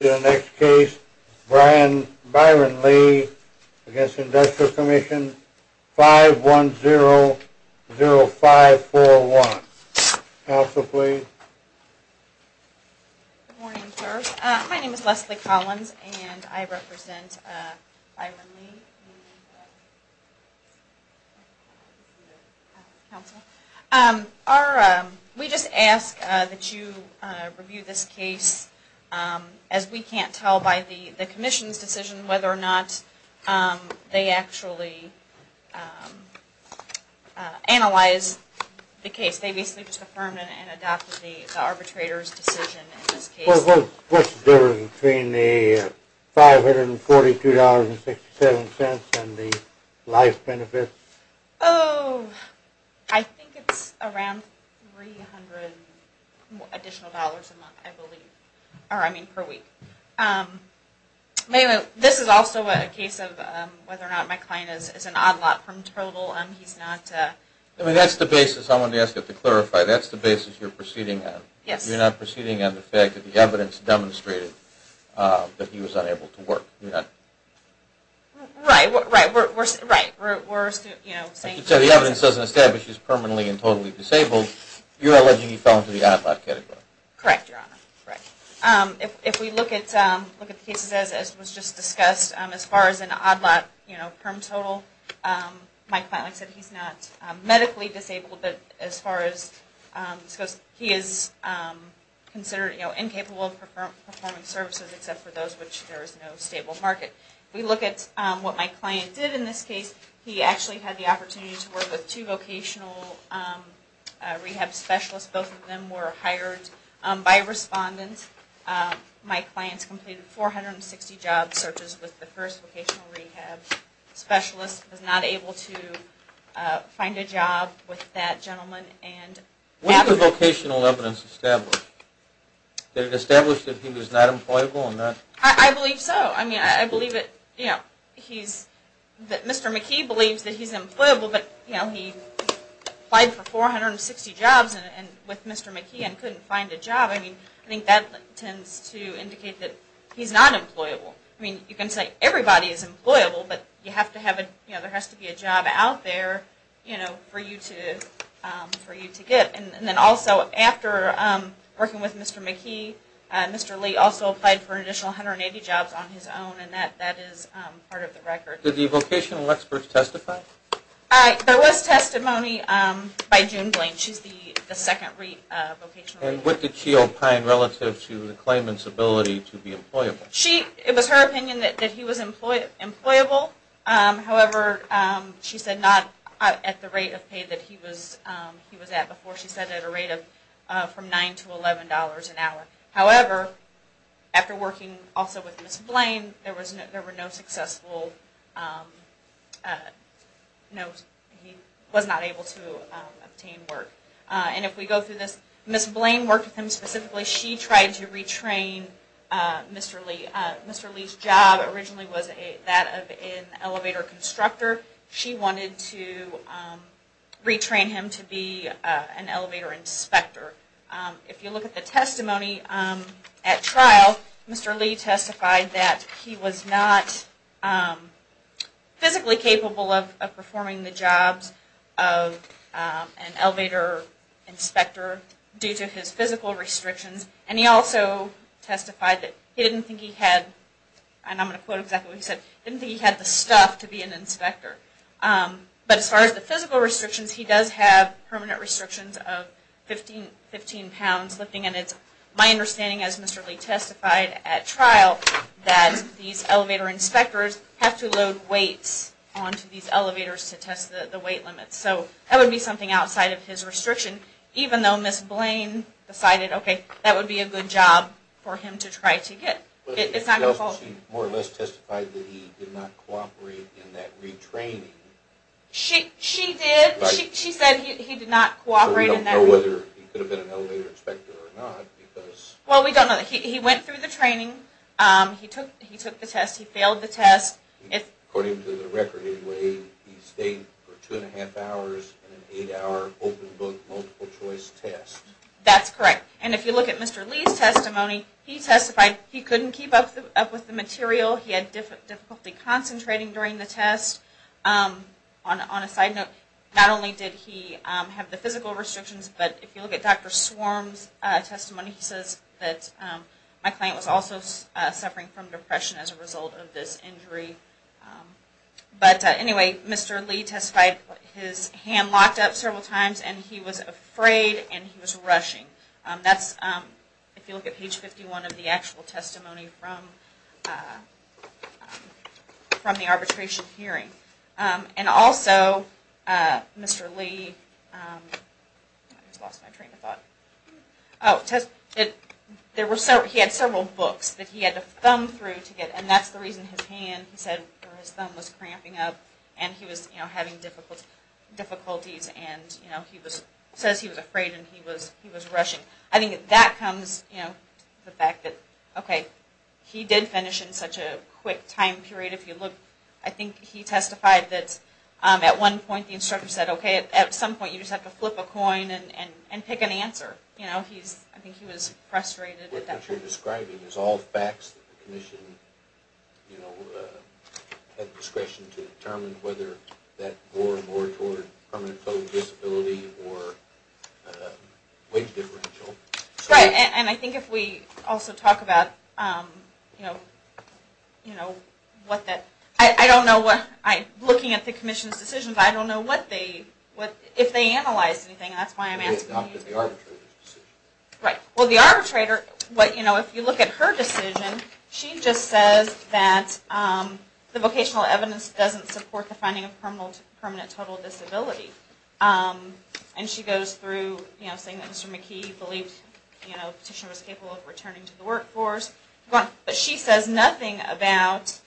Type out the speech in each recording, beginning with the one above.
The next case, Brian Byron Lee against Industrial Commission 5100541. Council, please. Good morning, sir. My name is Leslie Collins, and I represent Byron Lee. Council, we just ask that you review this case as we can't tell by the Commission's decision whether or not they actually analyzed the case. They basically just affirmed and adopted the arbitrator's decision in this case. What's the difference between the $542.67 and the life benefits? Oh, I think it's around $300 additional dollars a month, I believe. Or, I mean, per week. Anyway, this is also a case of whether or not my client is an odd lot from total. He's not... I mean, that's the basis. I wanted to ask you to clarify. That's the basis you're proceeding on. Yes. You're not proceeding on the fact that the evidence demonstrated that he was unable to work. Right. We're saying... I should say the evidence doesn't establish he's permanently and totally disabled. You're alleging he fell into the odd lot category. Correct, Your Honor. Correct. If we look at the cases as was just discussed, as far as an odd lot from total, my client said he's not medically disabled, but as far as... he is considered incapable of performing services except for those in which there is no stable market. If we look at what my client did in this case, he actually had the opportunity to work with two vocational rehab specialists. Both of them were hired by a respondent. My clients completed 460 job searches with the first vocational rehab specialist, was not able to find a job with that gentleman and... Was the vocational evidence established? Did it establish that he was not employable and not... I believe so. I mean, I believe that he's... that Mr. McKee believes that he's employable, but he applied for 460 jobs with Mr. McKee and couldn't find a job. I mean, I think that tends to indicate that he's not employable. I mean, you can say everybody is employable, but you have to have a... you know, there has to be a job out there, you know, for you to... for you to get. And then also, after working with Mr. McKee, Mr. Lee also applied for an additional 180 jobs on his own, and that is part of the record. Did the vocational experts testify? There was testimony by June Blaine. She's the second vocational... And what did she opine relative to the claimant's ability to be employable? She... it was her opinion that he was employable. However, she said not at the rate of pay that he was at before. She said at a rate of from $9 to $11 an hour. However, after working also with Ms. Blaine, there was no... there were no successful... no... he was not able to obtain work. And if we go through this, Ms. Blaine worked with him specifically. She tried to retrain Mr. Lee. Mr. Lee's job originally was that of an elevator constructor. She wanted to retrain him to be an elevator inspector. If you look at the testimony at trial, Mr. Lee testified that he was not physically capable of performing the jobs of an elevator inspector due to his physical restrictions. And he also testified that he didn't think he had, and I'm going to quote exactly what he said, didn't think he had the stuff to be an inspector. But as far as the physical restrictions, he does have permanent restrictions of 15 pounds lifting. And it's my understanding, as Mr. Lee testified at trial, that these elevator inspectors have to load weights onto these elevators to test the weight limits. So that would be something outside of his restriction, even though Ms. Blaine decided, okay, that would be a good job for him to try to get. But she more or less testified that he did not cooperate in that retraining. She did. She said he did not cooperate in that retraining. So we don't know whether he could have been an elevator inspector or not. Well, we don't know. He went through the training. He took the test. He failed the test. According to the record, anyway, he stayed for two and a half hours in an eight-hour, open-book, multiple-choice test. That's correct. And if you look at Mr. Lee's testimony, he testified he couldn't keep up with the material. He had difficulty concentrating during the test. On a side note, not only did he have the physical restrictions, but if you look at Dr. Swarm's testimony, he says that my client was also suffering from depression as a result of this injury. But anyway, Mr. Lee testified his hand locked up several times and he was afraid and he was rushing. That's, if you look at page 51 of the actual testimony from the arbitration hearing. And also, Mr. Lee, he had several books that he had to thumb through to get, and that's the reason his hand, he said, or his thumb was cramping up and he was having difficulties. And he says he was afraid and he was rushing. I think that comes to the fact that, okay, he did finish in such a quick time period. If you look, I think he testified that at one point the instructor said, okay, at some point you just have to flip a coin and pick an answer. I think he was frustrated at that point. What you're describing is all facts that the commission, you know, had discretion to determine whether that bore more toward permanent total disability or wage differential. Right, and I think if we also talk about, you know, what that, I don't know what, looking at the commission's decisions, I don't know what they, if they analyzed anything. They adopted the arbitrator's decision. Right, well, the arbitrator, what, you know, if you look at her decision, she just says that the vocational evidence doesn't support the finding of permanent total disability. And she goes through, you know, saying that Mr. McKee believed, you know, the petitioner was capable of returning to the workforce. But she says nothing about,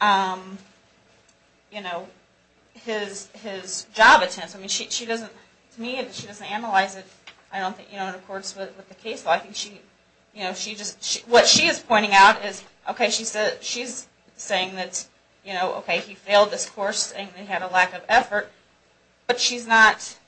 you know, his job attempts. I mean, she doesn't, to me, she doesn't analyze it. I don't think, you know, and of course with the case law, I think she, you know, she just, what she is pointing out is, okay, she's saying that, you know, okay, he failed this course and he had a lack of effort. But she's not,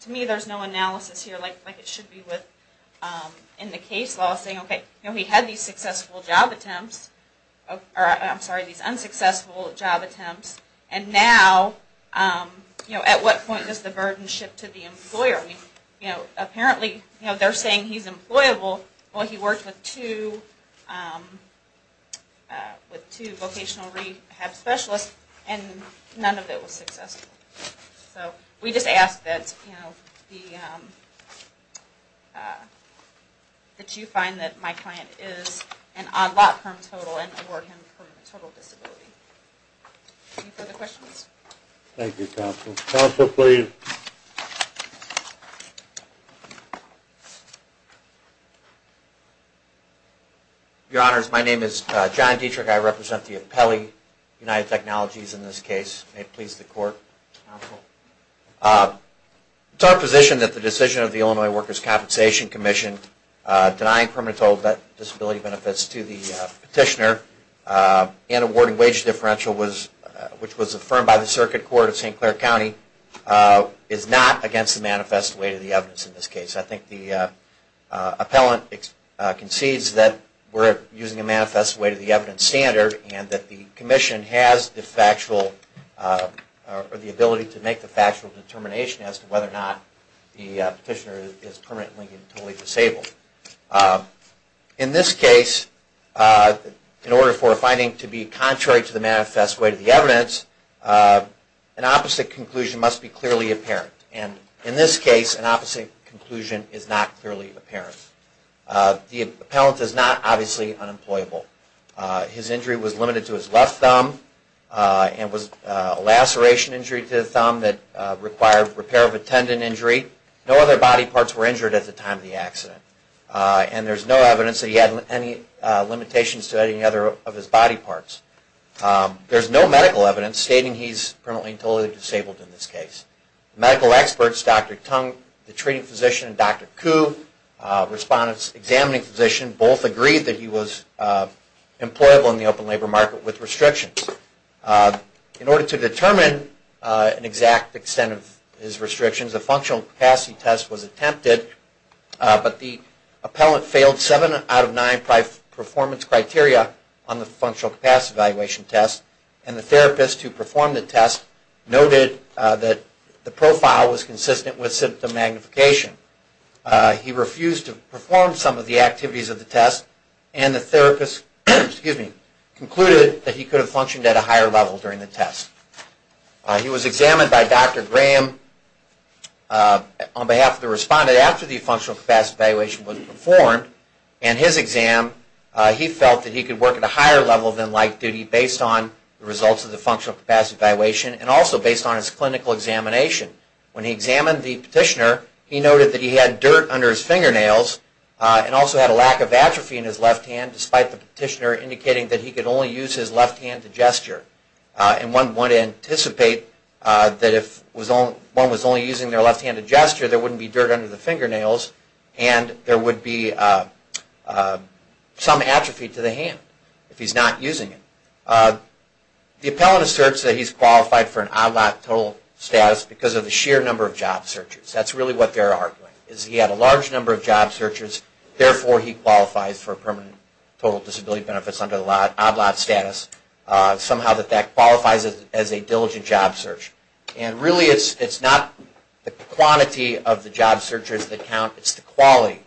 to me there's no analysis here like it should be with in the case law saying, okay, you know, he had these successful job attempts, or I'm sorry, these unsuccessful job attempts, and now, you know, at what point does the burden shift to the employer? You know, apparently, you know, they're saying he's employable. Well, he worked with two vocational rehab specialists and none of it was successful. So we just ask that, you know, that you find that my client is an odd lot permanent total and award him permanent total disability. Any further questions? Thank you, counsel. Counsel, please. Your Honors, my name is John Dietrich. I represent the Appellee United Technologies in this case. May it please the Court. It's our position that the decision of the Illinois Workers' Compensation Commission denying permanent total disability benefits to the petitioner and awarding wage differential, which was affirmed by the Circuit Court of St. Clair County, is not against the manifest weight of the evidence in this case. I think the appellant concedes that we're using a manifest weight of the evidence standard and that the Commission has the factual or the ability to make the factual determination as to whether or not the petitioner is permanently and totally disabled. In this case, in order for a finding to be contrary to the manifest weight of the evidence, an opposite conclusion must be clearly apparent. And in this case, an opposite conclusion is not clearly apparent. The appellant is not, obviously, unemployable. His injury was limited to his left thumb and was a laceration injury to the thumb that required repair of a tendon injury. No other body parts were injured at the time of the accident. And there's no evidence that he had any limitations to any other of his body parts. There's no medical evidence stating he's permanently and totally disabled in this case. Medical experts, Dr. Tung, the treating physician, and Dr. Koo, respondents examining the physician, both agreed that he was employable in the open labor market with restrictions. In order to determine an exact extent of his restrictions, a functional capacity test was attempted, but the appellant failed seven out of nine performance criteria on the functional capacity evaluation test, and the therapist who performed the test noted that the profile was consistent with symptom magnification. He refused to perform some of the activities of the test, and the therapist concluded that he could have functioned at a higher level during the test. He was examined by Dr. Graham on behalf of the respondent after the functional capacity evaluation was performed, and his exam, he felt that he could work at a higher level than light duty based on the results of the functional capacity evaluation and also based on his clinical examination. When he examined the petitioner, he noted that he had dirt under his fingernails and also had a lack of atrophy in his left hand, despite the petitioner indicating that he could only use his left hand to gesture. One would anticipate that if one was only using their left hand to gesture, there wouldn't be dirt under the fingernails, and there would be some atrophy to the hand if he's not using it. The appellant asserts that he's qualified for an odd lot total status because of the sheer number of job searches. That's really what they're arguing. He had a large number of job searches, therefore he qualifies for permanent total disability benefits under the odd lot status. Somehow that qualifies as a diligent job search. Really it's not the quantity of the job searches that count, it's the quality.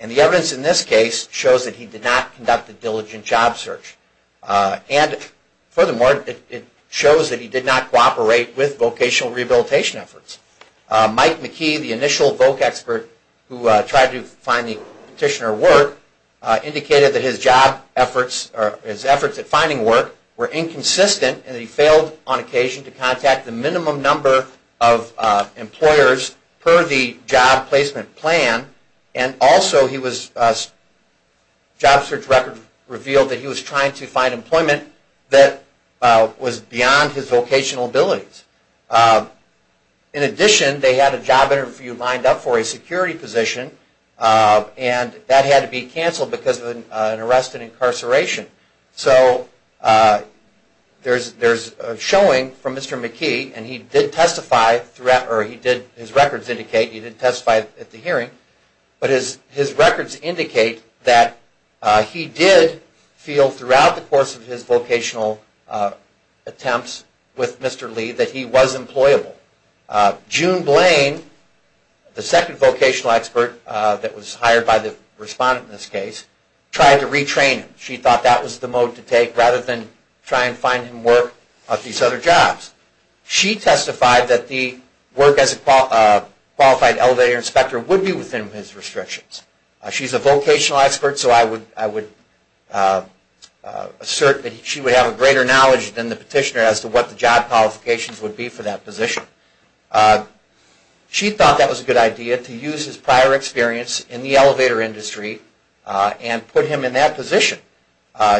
The evidence in this case shows that he did not conduct a diligent job search. Furthermore, it shows that he did not cooperate with vocational rehabilitation efforts. Mike McKee, the initial voc expert who tried to find the petitioner work, indicated that his efforts at finding work were inconsistent and that he failed on occasion to contact the minimum number of employers per the job placement plan. Also, his job search record revealed that he was trying to find employment that was beyond his vocational abilities. In addition, they had a job interview lined up for a security position and that had to be canceled because of an arrest and incarceration. So there's a showing from Mr. McKee and his records indicate that he did testify at the hearing, but his records indicate that he did feel throughout the course of his vocational attempts with Mr. Lee that he was employable. June Blaine, the second vocational expert that was hired by the respondent in this case, tried to retrain him. She thought that was the mode to take rather than try and find him work at these other jobs. She testified that the work as a qualified elevator inspector would be within his restrictions. She's a vocational expert, so I would assert that she would have a greater knowledge than the petitioner as to what the job qualifications would be for that position. She thought that was a good idea to use his prior experience in the elevator industry and put him in that position.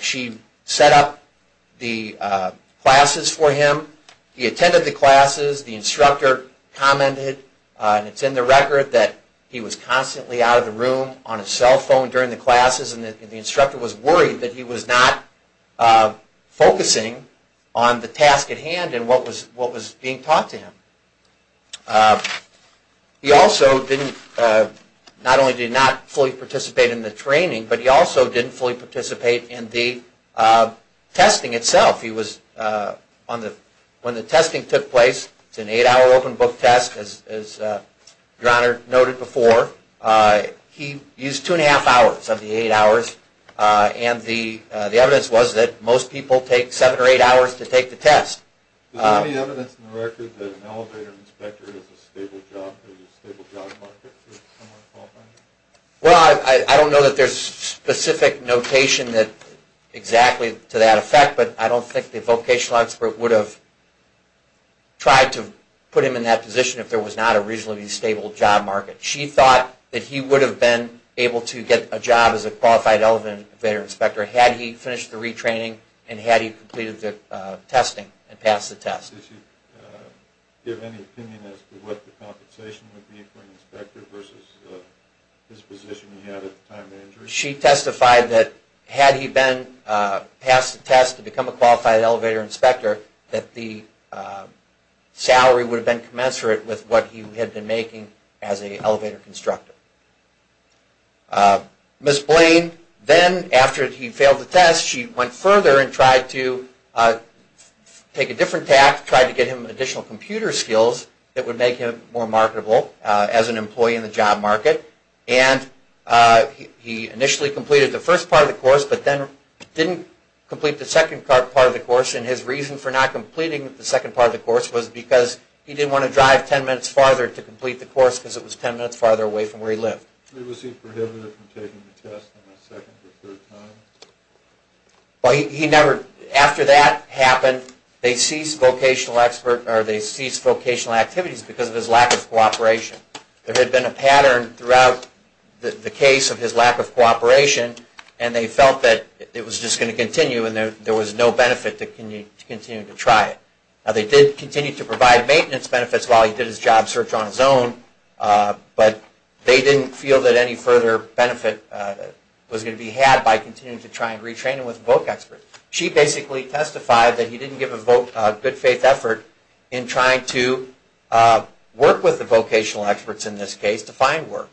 She set up the classes for him. He attended the classes. The instructor commented, and it's in the record, that he was constantly out of the room on his cell phone during the classes and the instructor was worried that he was not focusing on the task at hand and what was being taught to him. He also not only did not fully participate in the training, but he also didn't fully participate in the testing itself. When the testing took place, it's an eight-hour open book test, as your Honor noted before. He used two and a half hours of the eight hours, and the evidence was that most people take seven or eight hours to take the test. Is there any evidence in the record that an elevator inspector is a stable job market? Well, I don't know that there's specific notation exactly to that effect, but I don't think the vocational expert would have tried to put him in that position if there was not a reasonably stable job market. She thought that he would have been able to get a job as a qualified elevator inspector had he finished the retraining and had he completed the testing and passed the test. Did she give any opinion as to what the compensation would be for an inspector versus his position he had at the time of injury? She testified that had he passed the test to become a qualified elevator inspector, that the salary would have been commensurate with what he had been making as an elevator constructor. Ms. Blaine then, after he failed the test, she went further and tried to take a different path, tried to get him additional computer skills that would make him more marketable as an employee in the job market. He initially completed the first part of the course, but then didn't complete the second part of the course, and his reason for not completing the second part of the course was because he didn't want to drive ten minutes farther to complete the course because it was ten minutes farther away from where he lived. Was he prohibited from taking the test on the second or third time? After that happened, they ceased vocational activities because of his lack of cooperation. There had been a pattern throughout the case of his lack of cooperation, and they felt that it was just going to continue and there was no benefit to continuing to try it. They did continue to provide maintenance benefits while he did his job search on his own, but they didn't feel that any further benefit was going to be had by continuing to try and retrain him with voc experts. She basically testified that he didn't give a good faith effort in trying to work with the vocational experts in this case to find work.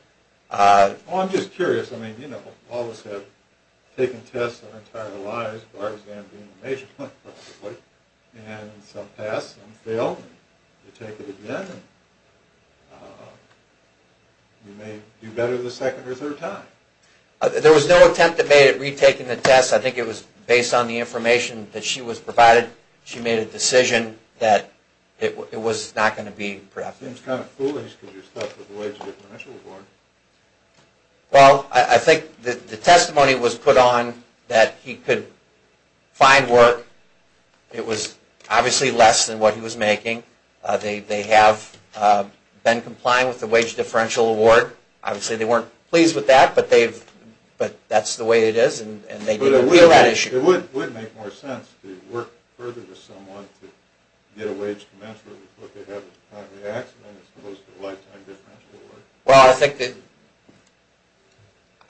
I'm just curious. All of us have taken tests our entire lives, bar exam being a major point, and some pass, some fail. You take it again, and you may do better the second or third time. There was no attempt at retaking the test. I think it was based on the information that she was provided. She made a decision that it was not going to be prepped. It seems kind of foolish to do stuff with a wage differential award. Well, I think the testimony was put on that he could find work. It was obviously less than what he was making. They have been complying with the wage differential award. Obviously, they weren't pleased with that, but that's the way it is, and they didn't feel that issue. It would make more sense to work further with someone to get a wage commensurate with what they had with the time of the accident as opposed to a lifetime differential award. Well,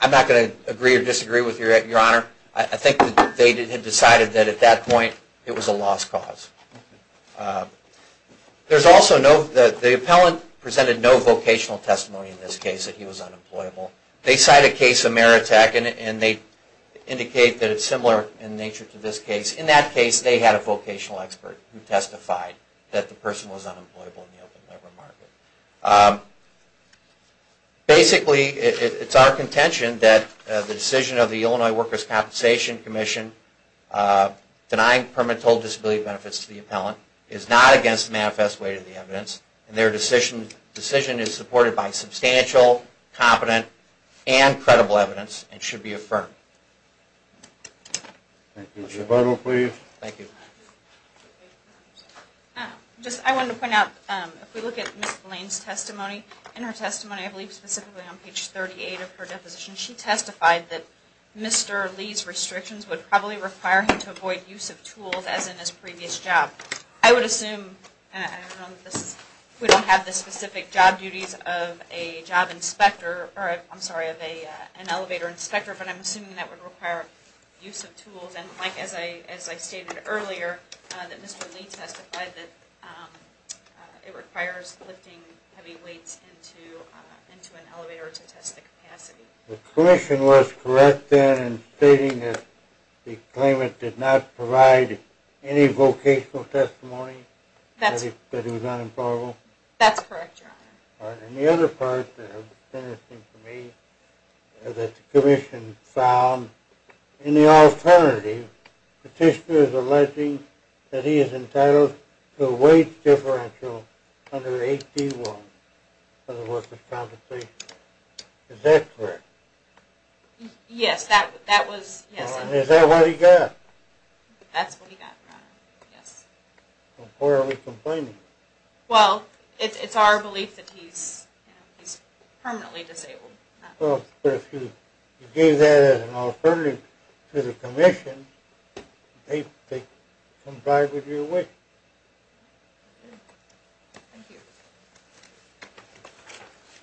I'm not going to agree or disagree with Your Honor. I think that they had decided that at that point it was a lost cause. The appellant presented no vocational testimony in this case that he was unemployable. They cite a case of Meritech, and they indicate that it's similar in nature to this case. In that case, they had a vocational expert who testified that the person was unemployable in the open labor market. Basically, it's our contention that the decision of the Illinois Workers' Compensation Commission denying permanent disability benefits to the appellant is not against the manifest weight of the evidence. Their decision is supported by substantial, competent, and credible evidence and should be affirmed. Thank you. Your Bible, please. Thank you. I wanted to point out, if we look at Ms. Blaine's testimony, in her testimony, I believe specifically on page 38 of her deposition, she testified that Mr. Lee's restrictions would probably require him to avoid use of tools as in his previous job. I would assume we don't have the specific job duties of an elevator inspector, but I'm assuming that would require use of tools. As I stated earlier, Mr. Lee testified that it requires lifting heavy weights into an elevator to test the capacity. The commission was correct then in stating that the claimant did not provide any vocational testimony? That he was unemployable? That's correct, Your Honor. All right. And the other part that's interesting to me is that the commission found in the alternative, the petitioner is alleging that he is entitled to a weight differential under 81 for the workers' compensation. Is that correct? Yes, that was, yes. Is that what he got? That's what he got, Your Honor, yes. Why are we complaining? Well, it's our belief that he's permanently disabled. Well, but if you gave that as an alternative to the commission, they'd comply with your wish. Thank you.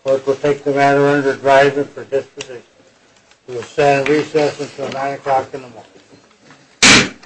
The court will take the matter under driver for disposition. We will stand recess until 9 o'clock in the morning.